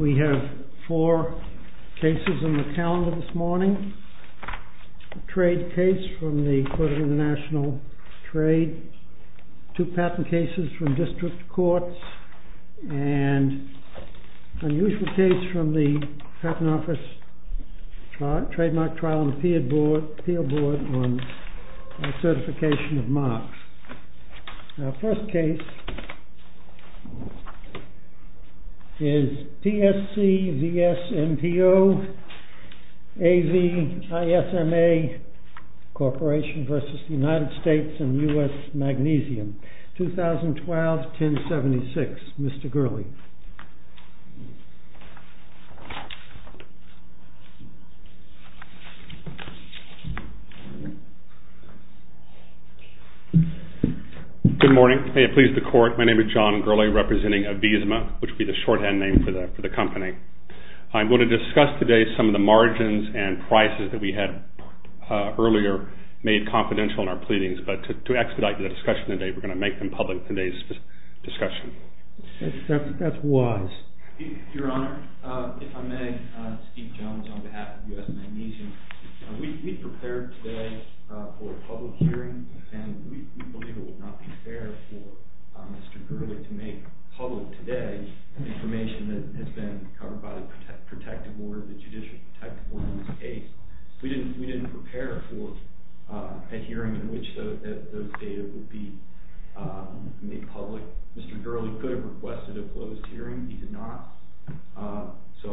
We have four cases in the calendar this morning. A trade case from the Court of International Trade, two patent cases from District Courts, and an unusual case from the Patent Office Trademark Trial and Appeal Board on Certification of Marks. Our first case is TSC VSMPO-AVISMA Corporation v. United States and U.S. Magnesium, 2012-1076. Mr. Gurley. Good morning. May it please the Court, my name is John Gurley representing AVISMA, which would be the shorthand name for the company. I'm going to discuss today some of the margins and prices that we had earlier made confidential in our pleadings, but to expedite the discussion today, we're going to make them public today's discussion. That's wise. Your Honor, if I may, Steve Jones on behalf of U.S. Magnesium. We prepared today for a public hearing and we believe it would not be fair for Mr. Jones' case. We didn't prepare for a hearing in which those data would be made public. Mr. Gurley could have requested a closed hearing, he did not. So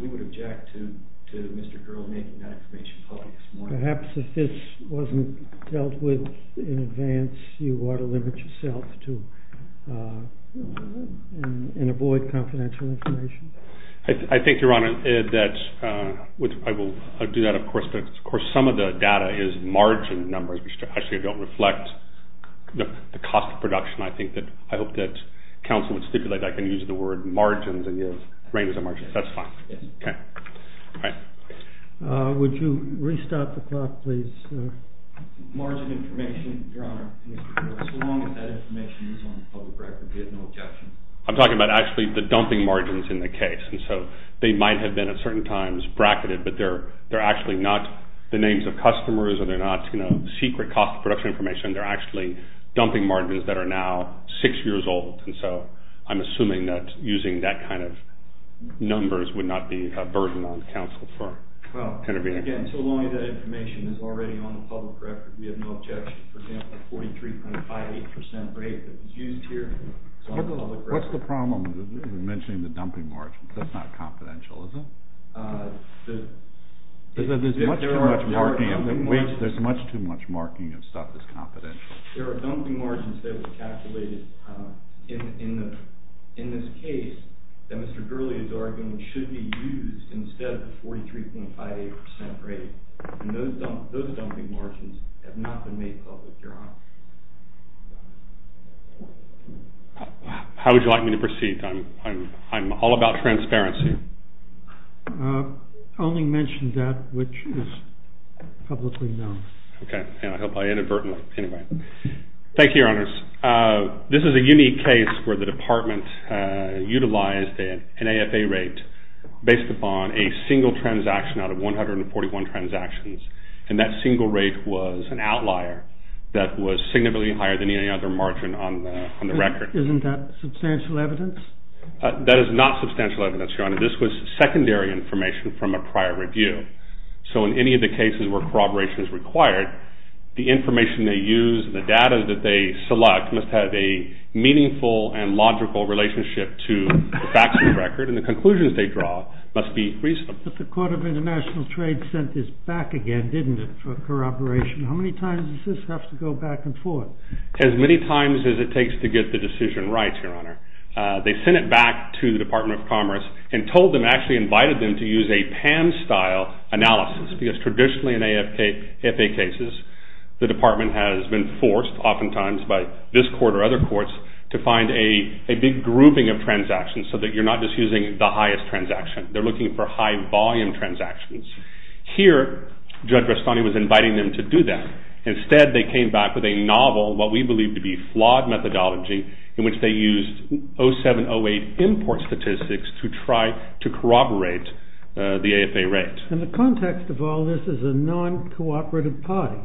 we would object to Mr. Gurley making that information public this morning. Perhaps if this wasn't dealt with in advance, you ought to limit yourself and avoid confidential information. I think, Your Honor, that some of the data is margin numbers, which actually don't reflect the cost of production. I hope that counsel would stipulate that I can use the word margins and range of margins. That's fine. Would you restart the clock, please? Margin information, Your Honor. As long as that information is on the public record, we have no objection. I'm talking about actually the dumping margins in the case. So they might have been at certain times bracketed, but they're actually not the names of customers or they're not secret cost of production information. They're actually dumping margins that are now six years old. So I'm assuming that using that kind of numbers would not be a burden on counsel for intervening. Again, as long as that information is already on the public record, we have no objection. For example, the 43.58% rate that was used here. What's the problem with mentioning the dumping margins? That's not confidential, is it? There's much too much marking of stuff that's confidential. There are dumping margins that were calculated in this case that Mr. Gurley is arguing should be used instead of the 43.58% rate. Those dumping margins have not been made public, Your Honor. How would you like me to proceed? I'm all about transparency. I'll only mention that which is publicly known. Okay. I hope I inadvertently, anyway. Thank you, Your Honors. This is a unique case where the department utilized an AFA rate based upon a single transaction out of 141 transactions. And that single rate was an outlier that was significantly higher than any other margin on the record. Isn't that substantial evidence? That is not substantial evidence, Your Honor. This was secondary information from a prior review. So in any of the cases where corroboration is required, the information they use and the data that they select must have a meaningful and logical relationship to the facts of the record. And the conclusions they draw must be reasonable. But the Court of International Trade sent this back again, didn't it, for corroboration? How many times does this have to go back and forth? As many times as it takes to get the decision right, Your Honor. They sent it back to the Department of Commerce and told them, actually invited them to use a PAM style analysis. Because traditionally in AFA cases, the department has been forced oftentimes by this court or other courts to find a big grouping of transactions so that you're not just using the highest transaction. They're looking for high volume transactions. Here, Judge Rastani was inviting them to do that. Instead, they came back with a novel, what we believe to be flawed methodology, in which they used 07-08 import statistics to try to corroborate the AFA rate. And the context of all this is a non-cooperative party.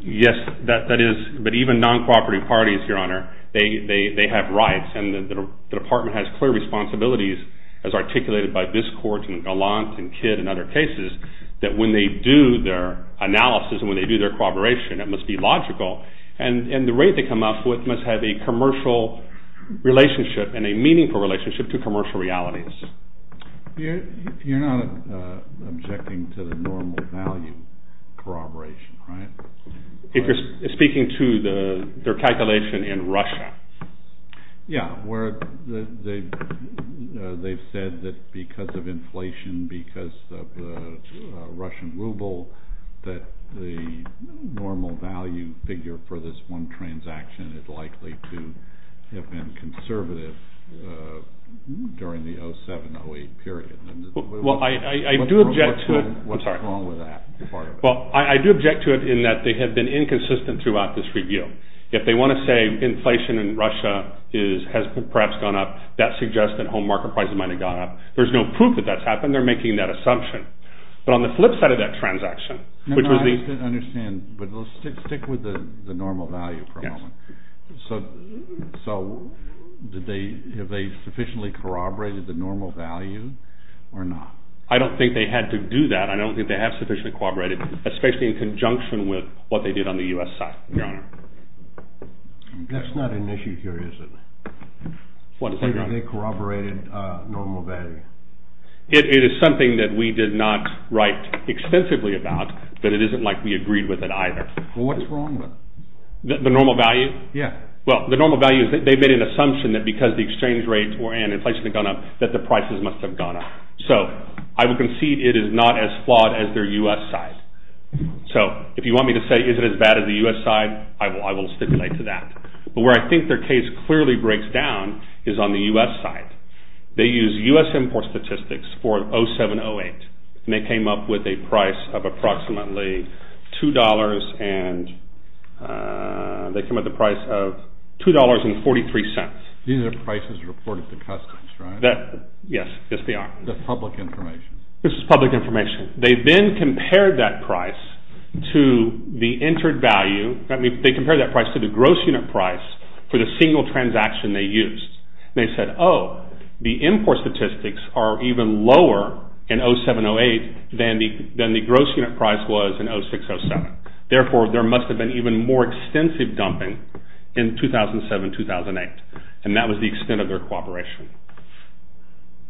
Yes, that is. But even non-cooperative parties, Your Honor, they have rights. And the department has clear responsibilities, as articulated by this court and Gallant and Kidd and other cases, that when they do their analysis and when they do their corroboration, it must be logical. And the rate they come up with must have a commercial relationship and a meaningful relationship to commercial realities. You're not objecting to the normal value corroboration, right? If you're speaking to their calculation in Russia. Yeah, where they've said that because of inflation, because of the Russian ruble, that the normal value figure for this one transaction is likely to have been conservative during the 07-08 period. Well, I do object to it. What's wrong with that part of it? Well, I do object to it in that they have been inconsistent throughout this review. If they want to say inflation in Russia has perhaps gone up, that suggests that home market prices might have gone up. There's no proof that that's happened. They're making that assumption. But on the flip side of that transaction, which was the... No, no, I just didn't understand. But stick with the normal value for a moment. Yes. So, have they sufficiently corroborated the normal value or not? I don't think they had to do that. I don't think they have sufficiently corroborated, especially in conjunction with what they did on the U.S. side, Your Honor. That's not an issue here, is it? What is that, Your Honor? They corroborated normal value. It is something that we did not write extensively about, but it isn't like we agreed with it either. Well, what is wrong with it? The normal value? Yes. Well, the normal value is that they made an assumption that because the exchange rates were in, inflation had gone up, that the prices must have gone up. So, I would concede it is not as flawed as their U.S. side. So, if you want me to say is it as bad as the U.S. side, I will stipulate to that. But where I think their case clearly breaks down is on the U.S. side. They use U.S. import statistics for 07-08, and they came up with a price of approximately $2.43. These are the prices reported to Customs, right? Yes, they are. This is public information? This is public information. They then compared that price to the gross unit price for the single transaction they used. They said, oh, the import statistics are even lower in 07-08 than the gross unit price was in 06-07. Therefore, there must have been even more extensive dumping in 2007-2008, and that was the extent of their cooperation.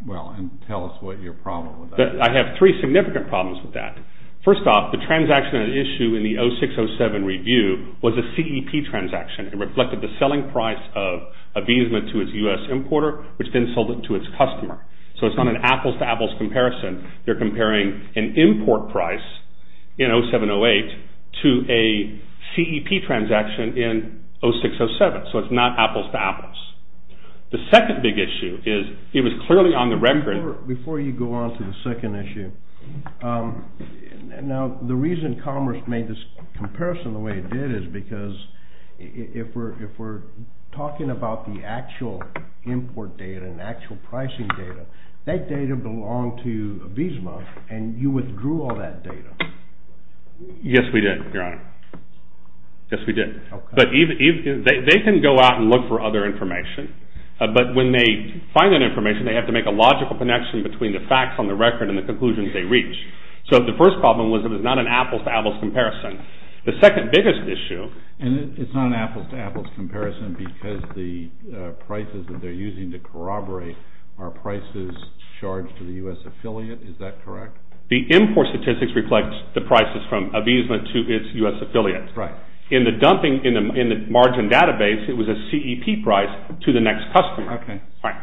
Well, and tell us what your problem with that is. I have three significant problems with that. First off, the transaction at issue in the 06-07 review was a CEP transaction. It reflected the selling price of Avisma to its U.S. importer, which then sold it to its customer. So, it is not an apples-to-apples comparison. They are comparing an import price in 07-08 to a CEP transaction in 06-07. So, it is not apples-to-apples. The second big issue is, it was clearly on the record. Before you go on to the second issue, now, the reason Commerce made this comparison the way it did is because if we are talking about the actual import data and actual pricing data, that data belonged to Avisma, and you withdrew all that data. Yes, we did, Your Honor. Yes, we did. They can go out and look for other information, but when they find that information, they have to make a logical connection between the facts on the record and the conclusions they reach. So, the first problem was it was not an apples-to-apples comparison. The second biggest issue... And it is not an apples-to-apples comparison because the prices that they are using to corroborate are prices charged to the U.S. affiliate. Is that correct? The import statistics reflect the prices from Avisma to its U.S. affiliate. Right. In the margin database, it was a CEP price to the next customer. Okay. Right.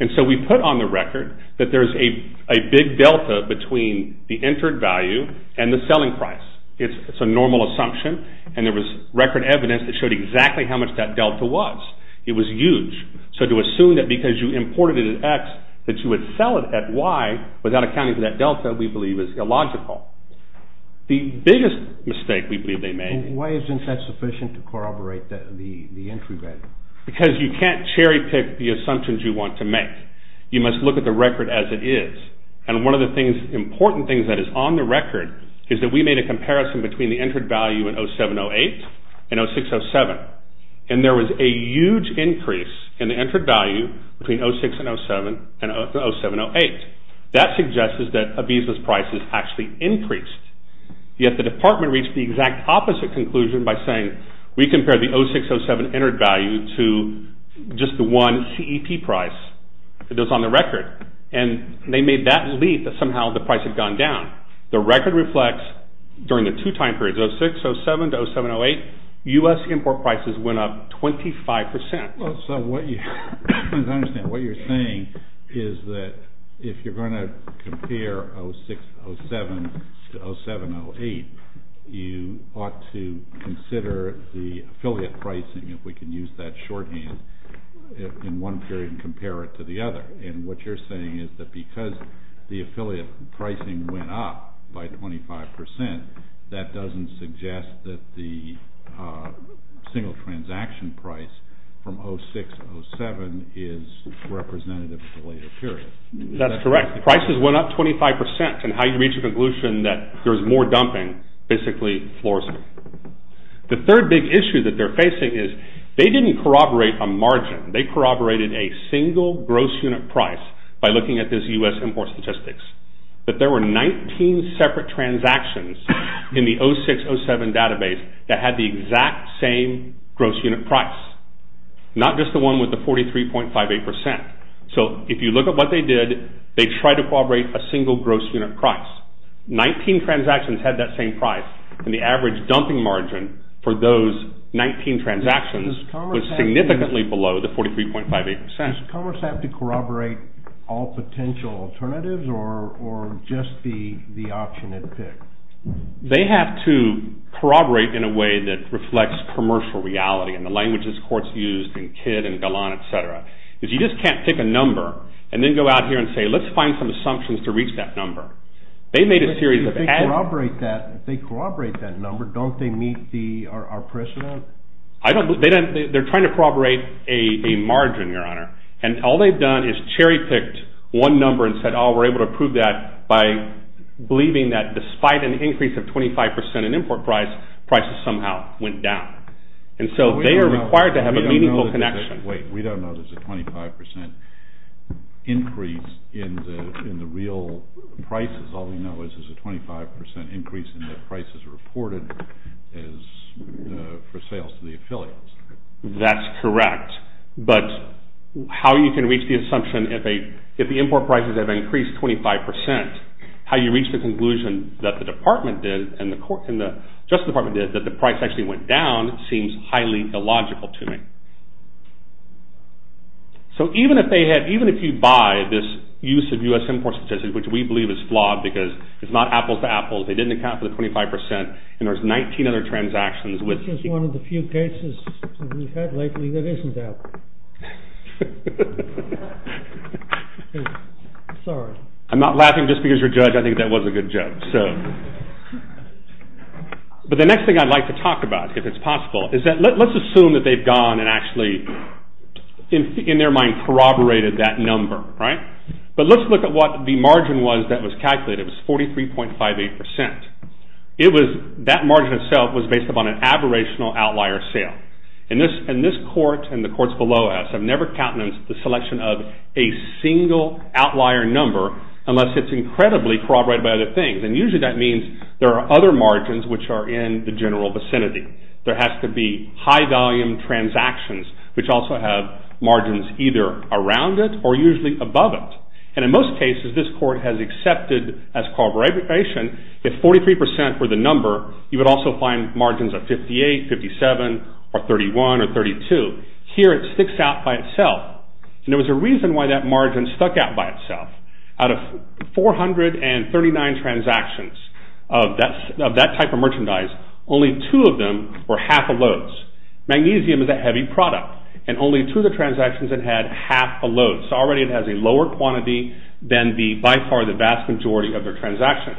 And so, we put on the record that there is a big delta between the entered value and the selling price. It is a normal assumption, and there was record evidence that showed exactly how much that delta was. It was huge. So, to assume that because you imported it at X that you would sell it at Y without accounting for that delta, we believe, is illogical. The biggest mistake we believe they made... Why isn't that sufficient to corroborate the entry value? Because you can't cherry-pick the assumptions you want to make. You must look at the record as it is. And one of the important things that is on the record is that we made a comparison between the entered value in 07-08 and 06-07. And there was a huge increase in the entered value between 06-07 and 07-08. That suggests that Ibiza's price has actually increased. Yet, the department reached the exact opposite conclusion by saying, we compared the 06-07 entered value to just the one CEP price that was on the record. And they made that leap that somehow the price had gone down. The record reflects during the two time periods, 06-07 to 07-08, U.S. import prices went up 25%. As I understand, what you're saying is that if you're going to compare 06-07 to 07-08, you ought to consider the affiliate pricing, if we can use that shorthand, in one period and compare it to the other. And what you're saying is that because the affiliate pricing went up by 25%, that doesn't suggest that the single transaction price from 06-07 is representative of the later period. That's correct. Prices went up 25% and how you reach a conclusion that there's more dumping basically floors it. The third big issue that they're facing is they didn't corroborate a margin. They corroborated a single gross unit price by looking at this U.S. import statistics. But there were 19 separate transactions in the 06-07 database that had the exact same gross unit price, not just the one with the 43.58%. So if you look at what they did, they tried to corroborate a single gross unit price. 19 transactions had that same price and the average dumping margin for those 19 transactions was significantly below the 43.58%. Does Commerce have to corroborate all potential alternatives or just the option it picked? They have to corroborate in a way that reflects commercial reality and the languages courts used in Kidd and Gallon, etc. You just can't pick a number and then go out here and say, let's find some assumptions to reach that number. If they corroborate that number, don't they meet our precedent? They're trying to corroborate a margin, Your Honor. And all they've done is cherry picked one number and said, oh, we're able to prove that by believing that despite an increase of 25% in import price, prices somehow went down. And so they are required to have a meaningful connection. We don't know there's a 25% increase in the real prices. All we know is there's a 25% increase in the prices reported for sales to the affiliates. That's correct. But how you can reach the assumption if the import prices have increased 25%, how you reach the conclusion that the Department did and the Justice Department did that the price actually went down seems highly illogical to me. So even if you buy this use of U.S. import statistics, which we believe is flawed because it's not apples to apples, they didn't account for the 25% and there's 19 other transactions. This is one of the few cases we've had lately that isn't Apple. Sorry. I'm not laughing just because you're a judge. I think that was a good joke. But the next thing I'd like to talk about, if it's possible, is that let's assume that they've gone and actually in their mind corroborated that number. But let's look at what the margin was that was calculated. It was 43.58%. That margin itself was based upon an aberrational outlier sale. And this court and the courts below us have never counted the selection of a single outlier number unless it's incredibly corroborated by other things. And usually that means there are other margins which are in the general vicinity. There has to be high volume transactions which also have margins either around it or usually above it. And in most cases this court has accepted as corroboration if 43% were the number, you would also find margins of 58, 57, or 31, or 32. Here it sticks out by itself. And there was a reason why that margin stuck out by itself. Out of 439 transactions of that type of merchandise, only two of them were half of loads. Magnesium is a heavy product. And only two of the transactions had half a load. So already it has a lower quantity than by far the vast majority of their transactions.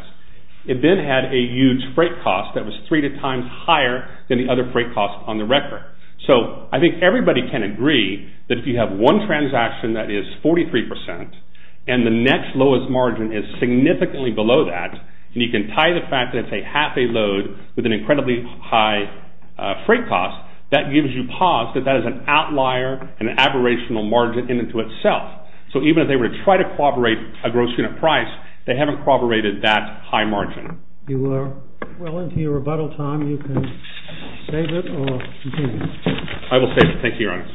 It then had a huge freight cost that was three times higher than the other freight costs on the record. So I think everybody can agree that if you have one transaction that is 43% and the next lowest margin is significantly below that, and you can tie the fact that it's a half a load with an incredibly high freight cost, that gives you pause that that is an outlier, an aberrational margin in and to itself. So even if they were to try to corroborate a gross unit price, they haven't corroborated that high margin. You are well into your rebuttal time. You can save it or continue. I will save it. Thank you, Your Honor.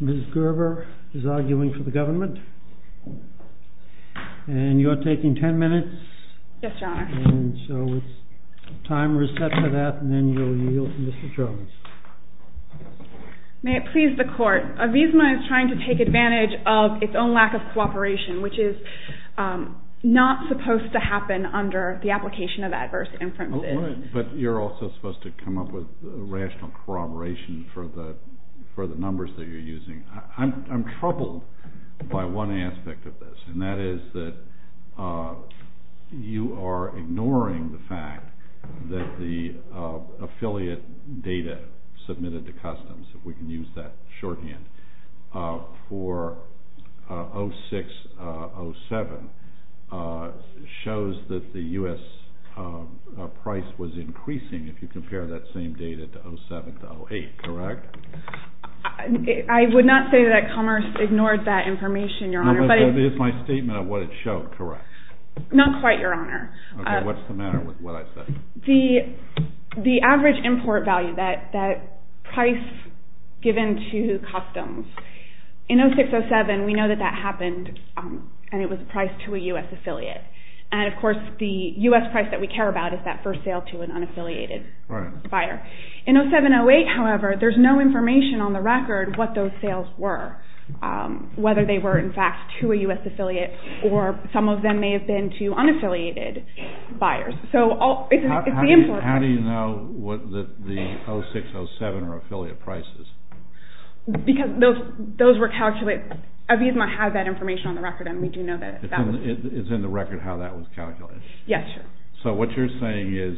Ms. Gerber is arguing for the government. And you are taking ten minutes. Yes, Your Honor. And so the timer is set for that, and then you'll yield to Mr. Jones. May it please the Court. Avisma is trying to take advantage of its own lack of cooperation, which is not supposed to happen under the application of adverse inferences. But you're also supposed to come up with rational corroboration for the numbers that you're using. I'm troubled by one aspect of this, and that is that you are ignoring the fact that the affiliate data submitted to customs, if we can use that shorthand, for 06-07 shows that the U.S. price was increasing, if you compare that same data to 07-08, correct? I would not say that Commerce ignored that information, Your Honor. But it is my statement of what it showed, correct? Not quite, Your Honor. Okay, what's the matter with what I said? The average import value, that price given to customs, in 06-07 we know that that happened, and it was priced to a U.S. affiliate. And, of course, the U.S. price that we care about is that first sale to an unaffiliated buyer. In 07-08, however, there's no information on the record what those sales were, whether they were, in fact, to a U.S. affiliate, or some of them may have been to unaffiliated buyers. How do you know that the 06-07 are affiliate prices? Because those were calculated. ABUSMA has that information on the record, and we do know that. It's in the record how that was calculated? Yes. So what you're saying is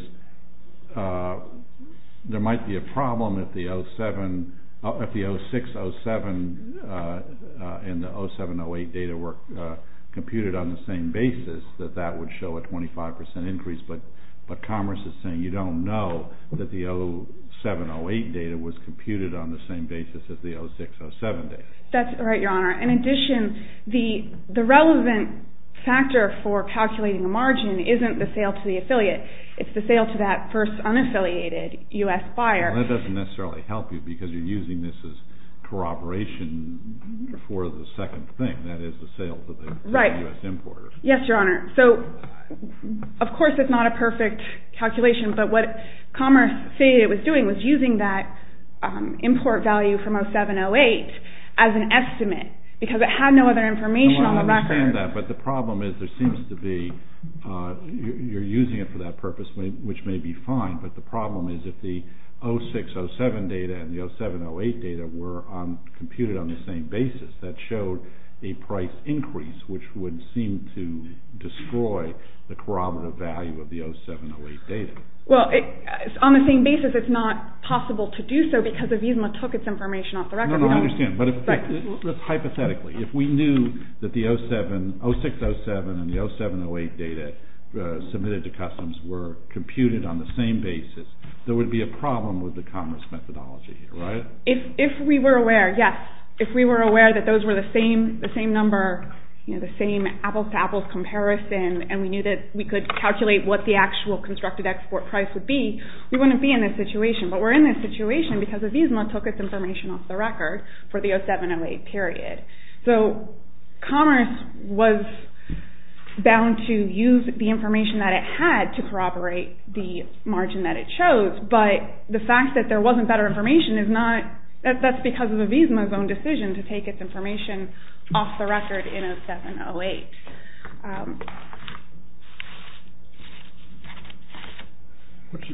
there might be a problem if the 06-07 and the 07-08 data were computed on the same basis, that that would show a 25% increase. But Commerce is saying you don't know that the 07-08 data was computed on the same basis as the 06-07 data. That's right, Your Honor. In addition, the relevant factor for calculating the margin isn't the sale to the affiliate. It's the sale to that first unaffiliated U.S. buyer. Well, that doesn't necessarily help you because you're using this as corroboration for the second thing, that is the sale to the U.S. importer. Yes, Your Honor. So, of course, it's not a perfect calculation, but what Commerce stated it was doing was using that import value from 07-08 as an estimate because it had no other information on the record. I understand that, but the problem is there seems to be, you're using it for that purpose, which may be fine, but the problem is if the 06-07 data and the 07-08 data were computed on the same basis, that showed a price increase, which would seem to destroy the corroborative value of the 07-08 data. Well, on the same basis, it's not possible to do so because Avisma took its information off the record. No, no, I understand. But hypothetically, if we knew that the 06-07 and the 07-08 data submitted to Customs were computed on the same basis, there would be a problem with the Commerce methodology, right? If we were aware, yes, if we were aware that those were the same number, the same apples-to-apples comparison, and we knew that we could calculate what the actual constructed export price would be, we wouldn't be in this situation. But we're in this situation because Avisma took its information off the record for the 07-08 period. So Commerce was bound to use the information that it had to corroborate the margin that it chose, but the fact that there wasn't better information, that's because of Avisma's own decision to take its information off the record in 07-08.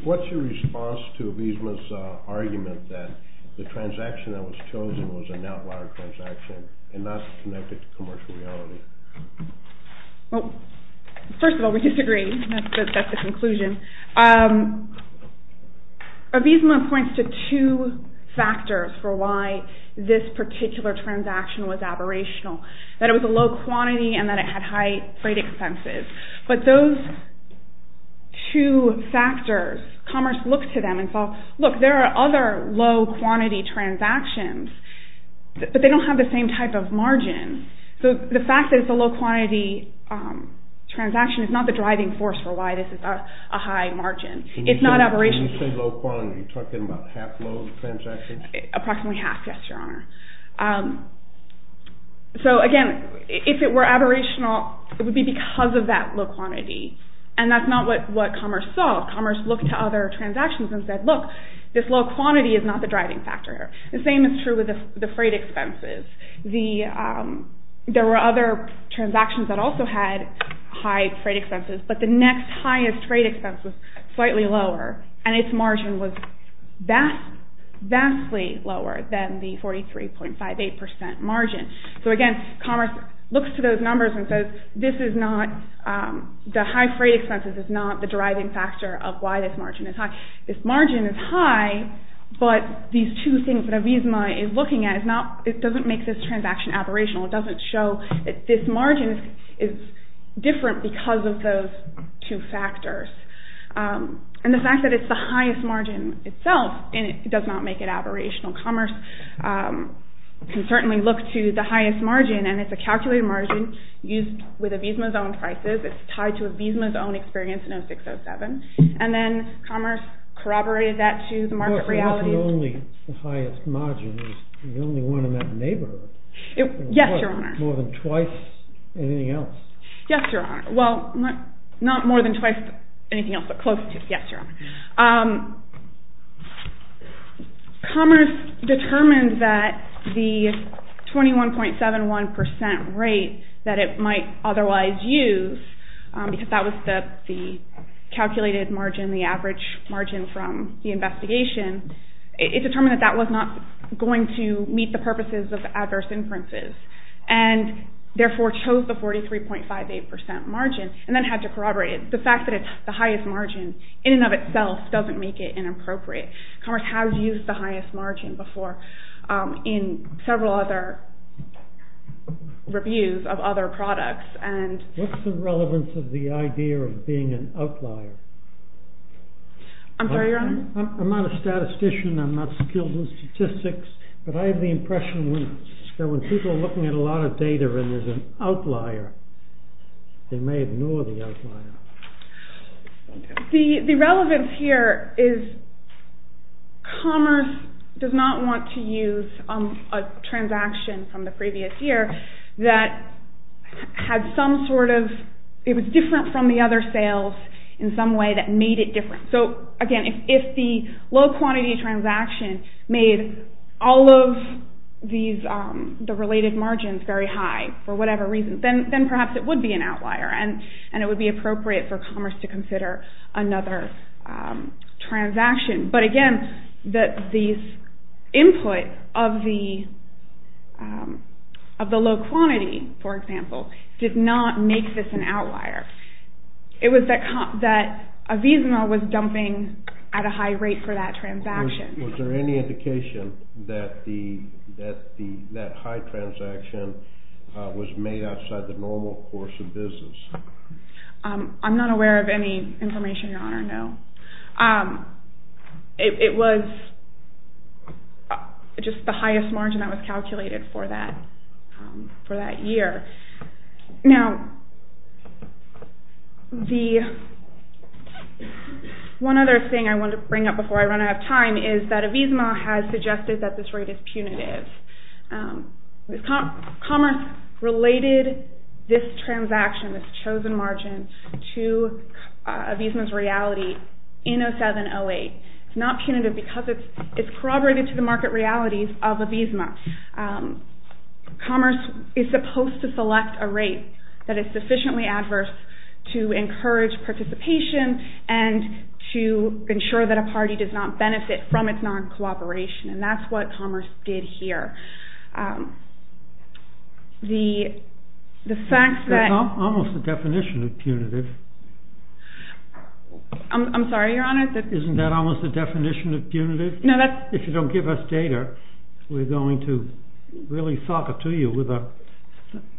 What's your response to Avisma's argument that the transaction that was chosen was an outlier transaction and not connected to commercial reality? Well, first of all, we disagree. That's the conclusion. Avisma points to two factors for why this particular transaction was aberrational, that it was a low quantity and that it had high freight expenses. But those two factors, Commerce looked to them and thought, look, there are other low-quantity transactions, but they don't have the same type of margin. So the fact that it's a low-quantity transaction is not the driving force for why this is a high margin. Can you say low-quantity? Are you talking about half-load transactions? Approximately half, yes, Your Honor. So again, if it were aberrational, it would be because of that low quantity, and that's not what Commerce saw. Commerce looked to other transactions and said, look, this low quantity is not the driving factor. The same is true with the freight expenses. There were other transactions that also had high freight expenses, but the next highest freight expense was slightly lower, and its margin was vastly lower than the 43.58% margin. So again, Commerce looks to those numbers and says, the high freight expenses is not the driving factor of why this margin is high. But these two things that Avisma is looking at, it doesn't make this transaction aberrational. It doesn't show that this margin is different because of those two factors. And the fact that it's the highest margin itself does not make it aberrational. Commerce can certainly look to the highest margin, and it's a calculated margin used with Avisma's own prices. It's tied to Avisma's own experience in 06-07. And then Commerce corroborated that to the market reality. It wasn't only the highest margin. It was the only one in that neighborhood. Yes, Your Honor. More than twice anything else. Yes, Your Honor. Well, not more than twice anything else, but close to. Yes, Your Honor. Commerce determined that the 21.71% rate that it might otherwise use, because that was the calculated margin, the average margin from the investigation, it determined that that was not going to meet the purposes of adverse inferences, and therefore chose the 43.58% margin, and then had to corroborate it. The fact that it's the highest margin in and of itself doesn't make it inappropriate. Commerce has used the highest margin before in several other reviews of other products. What's the relevance of the idea of being an outlier? I'm sorry, Your Honor? I'm not a statistician. I'm not skilled in statistics. But I have the impression that when people are looking at a lot of data and there's an outlier, they may ignore the outlier. The relevance here is commerce does not want to use a transaction from the previous year that was different from the other sales in some way that made it different. So, again, if the low-quantity transaction made all of the related margins very high for whatever reason, then perhaps it would be an outlier, and it would be appropriate for commerce to consider another transaction. But, again, the input of the low-quantity, for example, did not make this an outlier. It was that Avisma was dumping at a high rate for that transaction. Was there any indication that that high transaction was made outside the normal course of business? I'm not aware of any information, Your Honor, no. It was just the highest margin that was calculated for that year. Now, one other thing I want to bring up before I run out of time is that Avisma has suggested that this rate is punitive. Commerce related this transaction, this chosen margin, to Avisma's reality in 07-08. It's not punitive because it's corroborated to the market realities of Avisma. Commerce is supposed to select a rate that is sufficiently adverse to encourage participation and to ensure that a party does not benefit from its non-cooperation, and that's what commerce did here. That's almost the definition of punitive. I'm sorry, Your Honor? Isn't that almost the definition of punitive? If you don't give us data, we're going to really sock it to you with the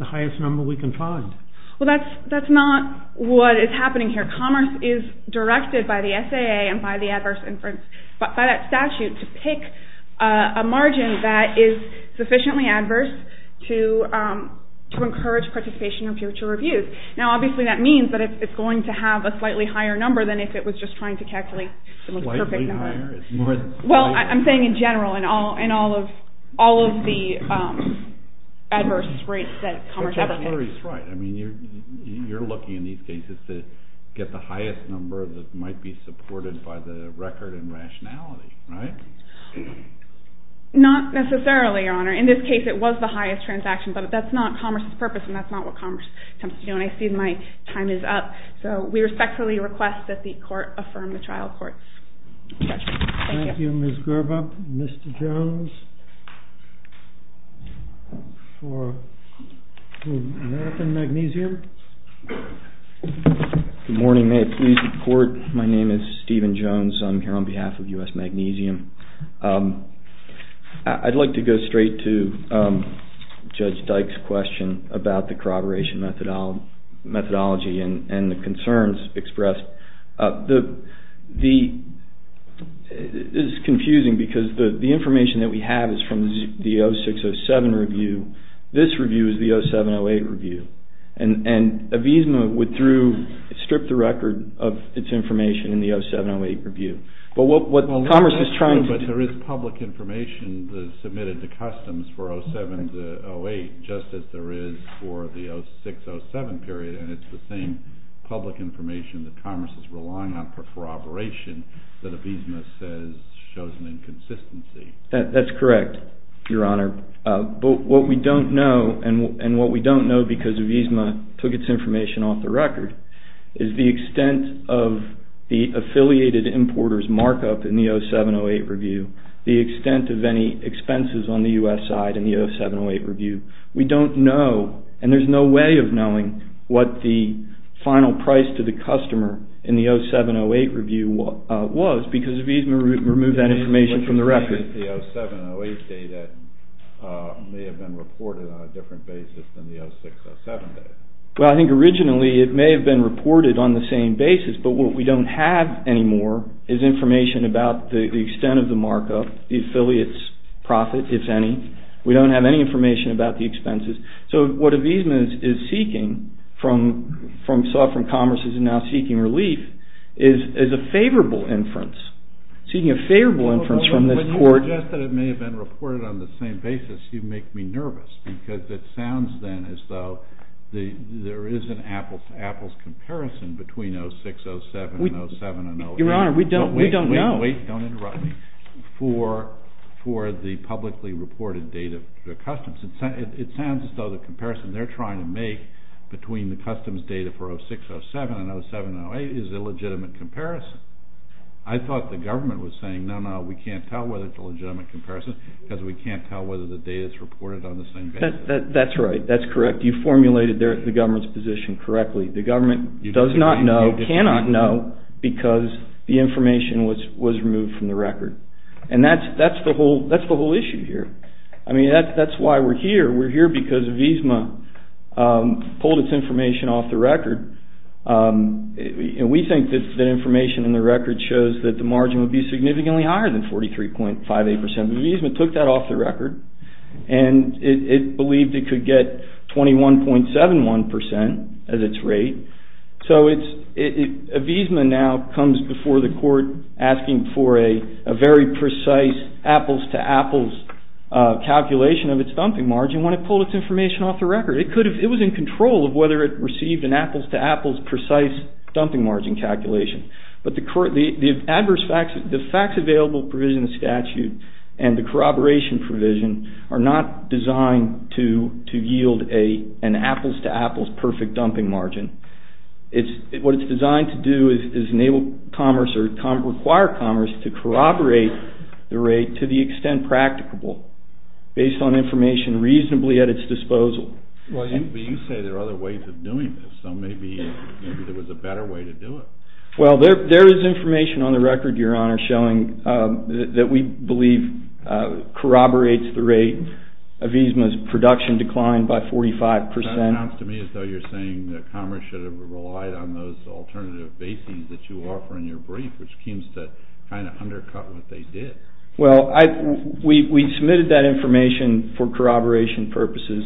highest number we can find. Well, that's not what is happening here. Commerce is directed by the SAA and by that statute to pick a margin that is sufficiently adverse to encourage participation in future reviews. Now, obviously that means that it's going to have a slightly higher number than if it was just trying to calculate the most perfect number. Well, I'm saying in general, in all of the adverse rates that commerce ever gets. You're looking in these cases to get the highest number that might be supported by the record and rationality, right? Not necessarily, Your Honor. In this case, it was the highest transaction, but that's not commerce's purpose, and that's not what commerce attempts to do, and I see my time is up. So, we respectfully request that the court affirm the trial court's judgment. Thank you, Ms. Gerber. Mr. Jones for American Magnesium. Good morning. May it please the court? My name is Stephen Jones. I'm here on behalf of U.S. Magnesium. I'd like to go straight to Judge Dyke's question about the corroboration methodology and the concerns expressed. This is confusing because the information that we have is from the 0607 review. This review is the 0708 review. And Avisma would strip the record of its information in the 0708 review. But there is public information submitted to customs for 0708, just as there is for the 0607 period, and it's the same public information that commerce is relying on for corroboration that Avisma says shows an inconsistency. That's correct, Your Honor. But what we don't know, and what we don't know because Avisma took its information off the record, is the extent of the affiliated importer's markup in the 0708 review, the extent of any expenses on the U.S. side in the 0708 review. We don't know, and there's no way of knowing, what the final price to the customer in the 0708 review was because Avisma removed that information from the record. The 0708 data may have been reported on a different basis than the 0607 data. Well, I think originally it may have been reported on the same basis, but what we don't have anymore is information about the extent of the markup, the affiliate's profit, if any. We don't have any information about the expenses. So what Avisma is seeking from sovereign commerces and now seeking relief is a favorable inference, seeking a favorable inference from this court. When you suggest that it may have been reported on the same basis, you make me nervous because it sounds then as though there is an apples-to-apples comparison between 0607 and 0708. Your Honor, we don't know. Wait, wait, wait. Don't interrupt me. For the publicly reported data for the customs, it sounds as though the comparison they're trying to make between the customs data for 0607 and 0708 is a legitimate comparison. I thought the government was saying, no, no, we can't tell whether it's a legitimate comparison because we can't tell whether the data is reported on the same basis. That's right. That's correct. You formulated the government's position correctly. The government does not know, cannot know, because the information was removed from the record. And that's the whole issue here. I mean, that's why we're here. We're here because Avisma pulled its information off the record. We think that information in the record shows that the margin would be significantly higher than 43.58%. Avisma took that off the record and it believed it could get 21.71% as its rate. So Avisma now comes before the court asking for a very precise apples-to-apples calculation of its dumping margin when it pulled its information off the record. It was in control of whether it received an apples-to-apples precise dumping margin calculation. But the facts available provision in the statute and the corroboration provision are not designed to yield an apples-to-apples perfect dumping margin. What it's designed to do is enable commerce or require commerce to corroborate the rate to the extent practicable based on information reasonably at its disposal. But you say there are other ways of doing this. So maybe there was a better way to do it. Well, there is information on the record, Your Honor, showing that we believe corroborates the rate. Avisma's production declined by 45%. That sounds to me as though you're saying that commerce should have relied on those alternative basings that you offer in your brief, which seems to kind of undercut what they did. Well, we submitted that information for corroboration purposes.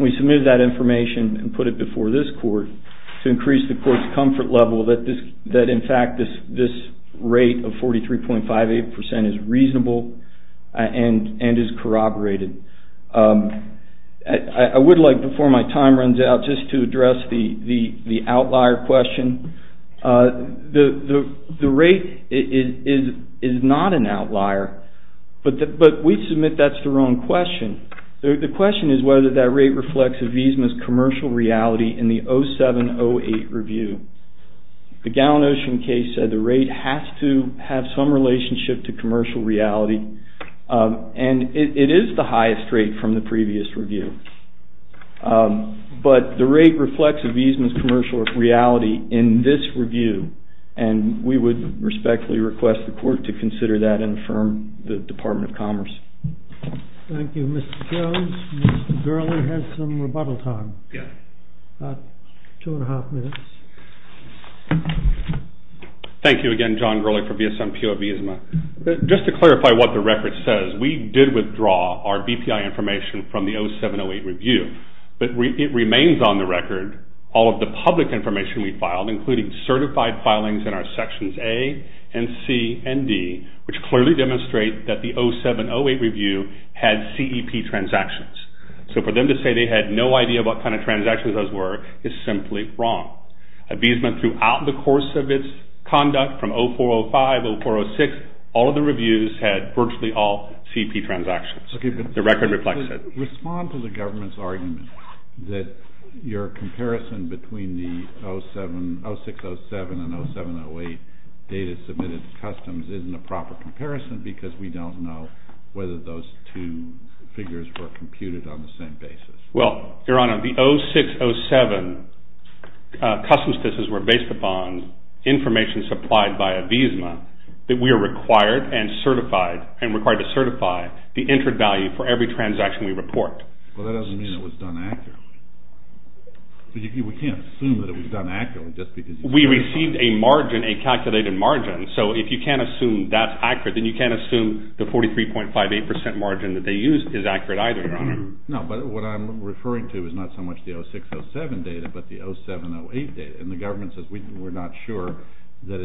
We submitted that information and put it before this court to increase the court's comfort level that in fact this rate of 43.58% is reasonable and is corroborated. I would like, before my time runs out, just to address the outlier question. The rate is not an outlier, but we submit that's the wrong question. The question is whether that rate reflects Avisma's commercial reality in the 07-08 review. The Gallin-Ocean case said the rate has to have some relationship to commercial reality, and it is the highest rate from the previous review. But the rate reflects Avisma's commercial reality in this review, and we would respectfully request the court to consider that and affirm the Department of Commerce. Thank you, Mr. Jones. Mr. Gurley has some rebuttal time, about two and a half minutes. Thank you again, John Gurley, for VSMPO Avisma. Just to clarify what the record says, we did withdraw our BPI information from the 07-08 review, but it remains on the record all of the public information we filed, including certified filings in our Sections A and C and D, which clearly demonstrate that the 07-08 review had CEP transactions. So for them to say they had no idea what kind of transactions those were is simply wrong. Avisma, throughout the course of its conduct from 04-05, 04-06, all of the reviews had virtually all CEP transactions. The record reflects it. Respond to the government's argument that your comparison between the 06-07 and 07-08 data submitted to Customs isn't a proper comparison because we don't know whether those two figures were computed on the same basis. Well, Your Honor, the 06-07 Customs cases were based upon information supplied by Avisma that we are required and certified, and required to certify, the entered value for every transaction we report. Well, that doesn't mean it was done accurately. We can't assume that it was done accurately just because... We received a margin, a calculated margin, so if you can't assume that's accurate, then you can't assume the 43.58% margin that they used is accurate either, Your Honor. No, but what I'm referring to is not so much the 06-07 data, but the 07-08 data, and the government says we're not sure that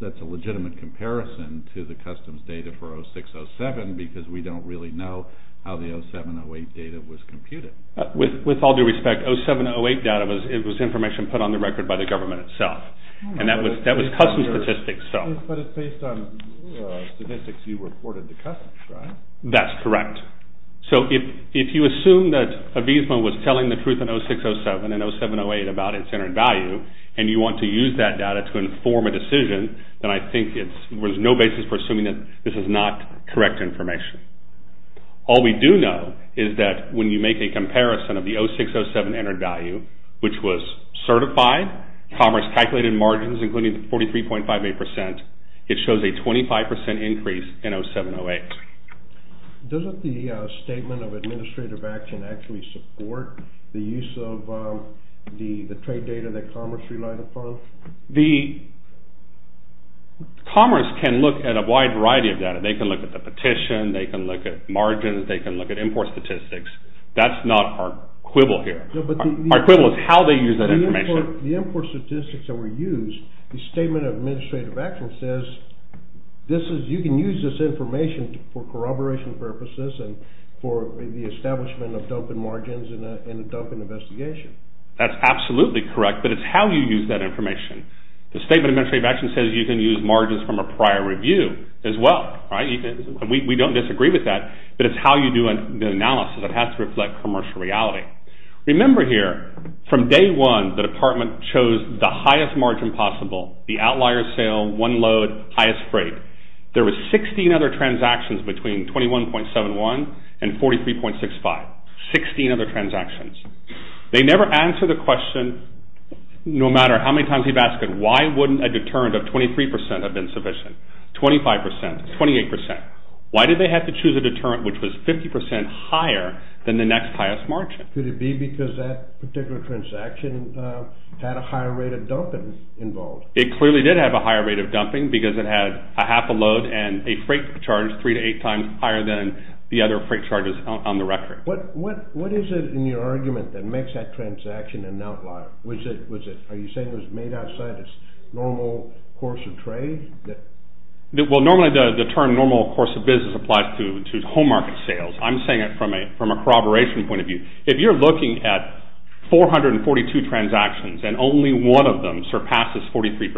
that's a legitimate comparison to the Customs data for 06-07 because we don't really know how the 07-08 data was computed. With all due respect, 07-08 data was information put on the record by the government itself, and that was Customs statistics. But it's based on statistics you reported to Customs, right? That's correct. So if you assume that Avisma was telling the truth in 06-07 and 07-08 about its entered value, and you want to use that data to inform a decision, then I think there's no basis for assuming that this is not correct information. All we do know is that when you make a comparison of the 06-07 entered value, which was certified, Commerce calculated margins, including the 43.58%, it shows a 25% increase in 07-08. Doesn't the Statement of Administrative Action actually support the use of the trade data that Commerce relied upon? Commerce can look at a wide variety of data. They can look at the petition. They can look at margins. They can look at import statistics. That's not our quibble here. Our quibble is how they use that information. The import statistics that were used, the Statement of Administrative Action says, you can use this information for corroboration purposes and for the establishment of dumping margins in a dumping investigation. That's absolutely correct, but it's how you use that information. The Statement of Administrative Action says you can use margins from a prior review as well. We don't disagree with that, but it's how you do the analysis. It has to reflect commercial reality. Remember here, from day one, the department chose the highest margin possible, the outlier sale, one load, highest freight. There were 16 other transactions between 21.71 and 43.65, 16 other transactions. They never answered the question, no matter how many times we've asked them, why wouldn't a deterrent of 23% have been sufficient, 25%, 28%. Why did they have to choose a deterrent which was 50% higher than the next highest margin? Could it be because that particular transaction had a higher rate of dumping involved? It clearly did have a higher rate of dumping because it had a half a load and a freight charge three to eight times higher than the other freight charges on the record. What is it in your argument that makes that transaction an outlier? Are you saying it was made outside its normal course of trade? Well, normally the term normal course of business applies to home market sales. I'm saying it from a corroboration point of view. If you're looking at 442 transactions and only one of them surpasses 43%,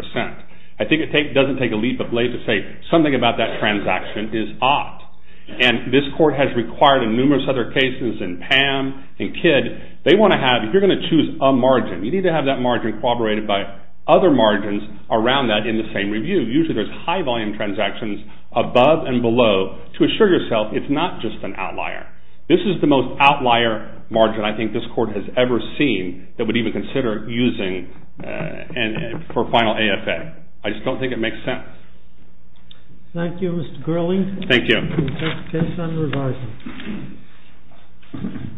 I think it doesn't take a leap of faith to say something about that transaction is odd. And this court has required in numerous other cases in PAM and KID, they want to have, if you're going to choose a margin, you need to have that margin corroborated by other margins around that in the same review. Usually there's high volume transactions above and below to assure yourself it's not just an outlier. This is the most outlier margin I think this court has ever seen that would even consider using for final AFA. I just don't think it makes sense. Thank you, Mr. Gurley. Thank you. We'll take a case on revising.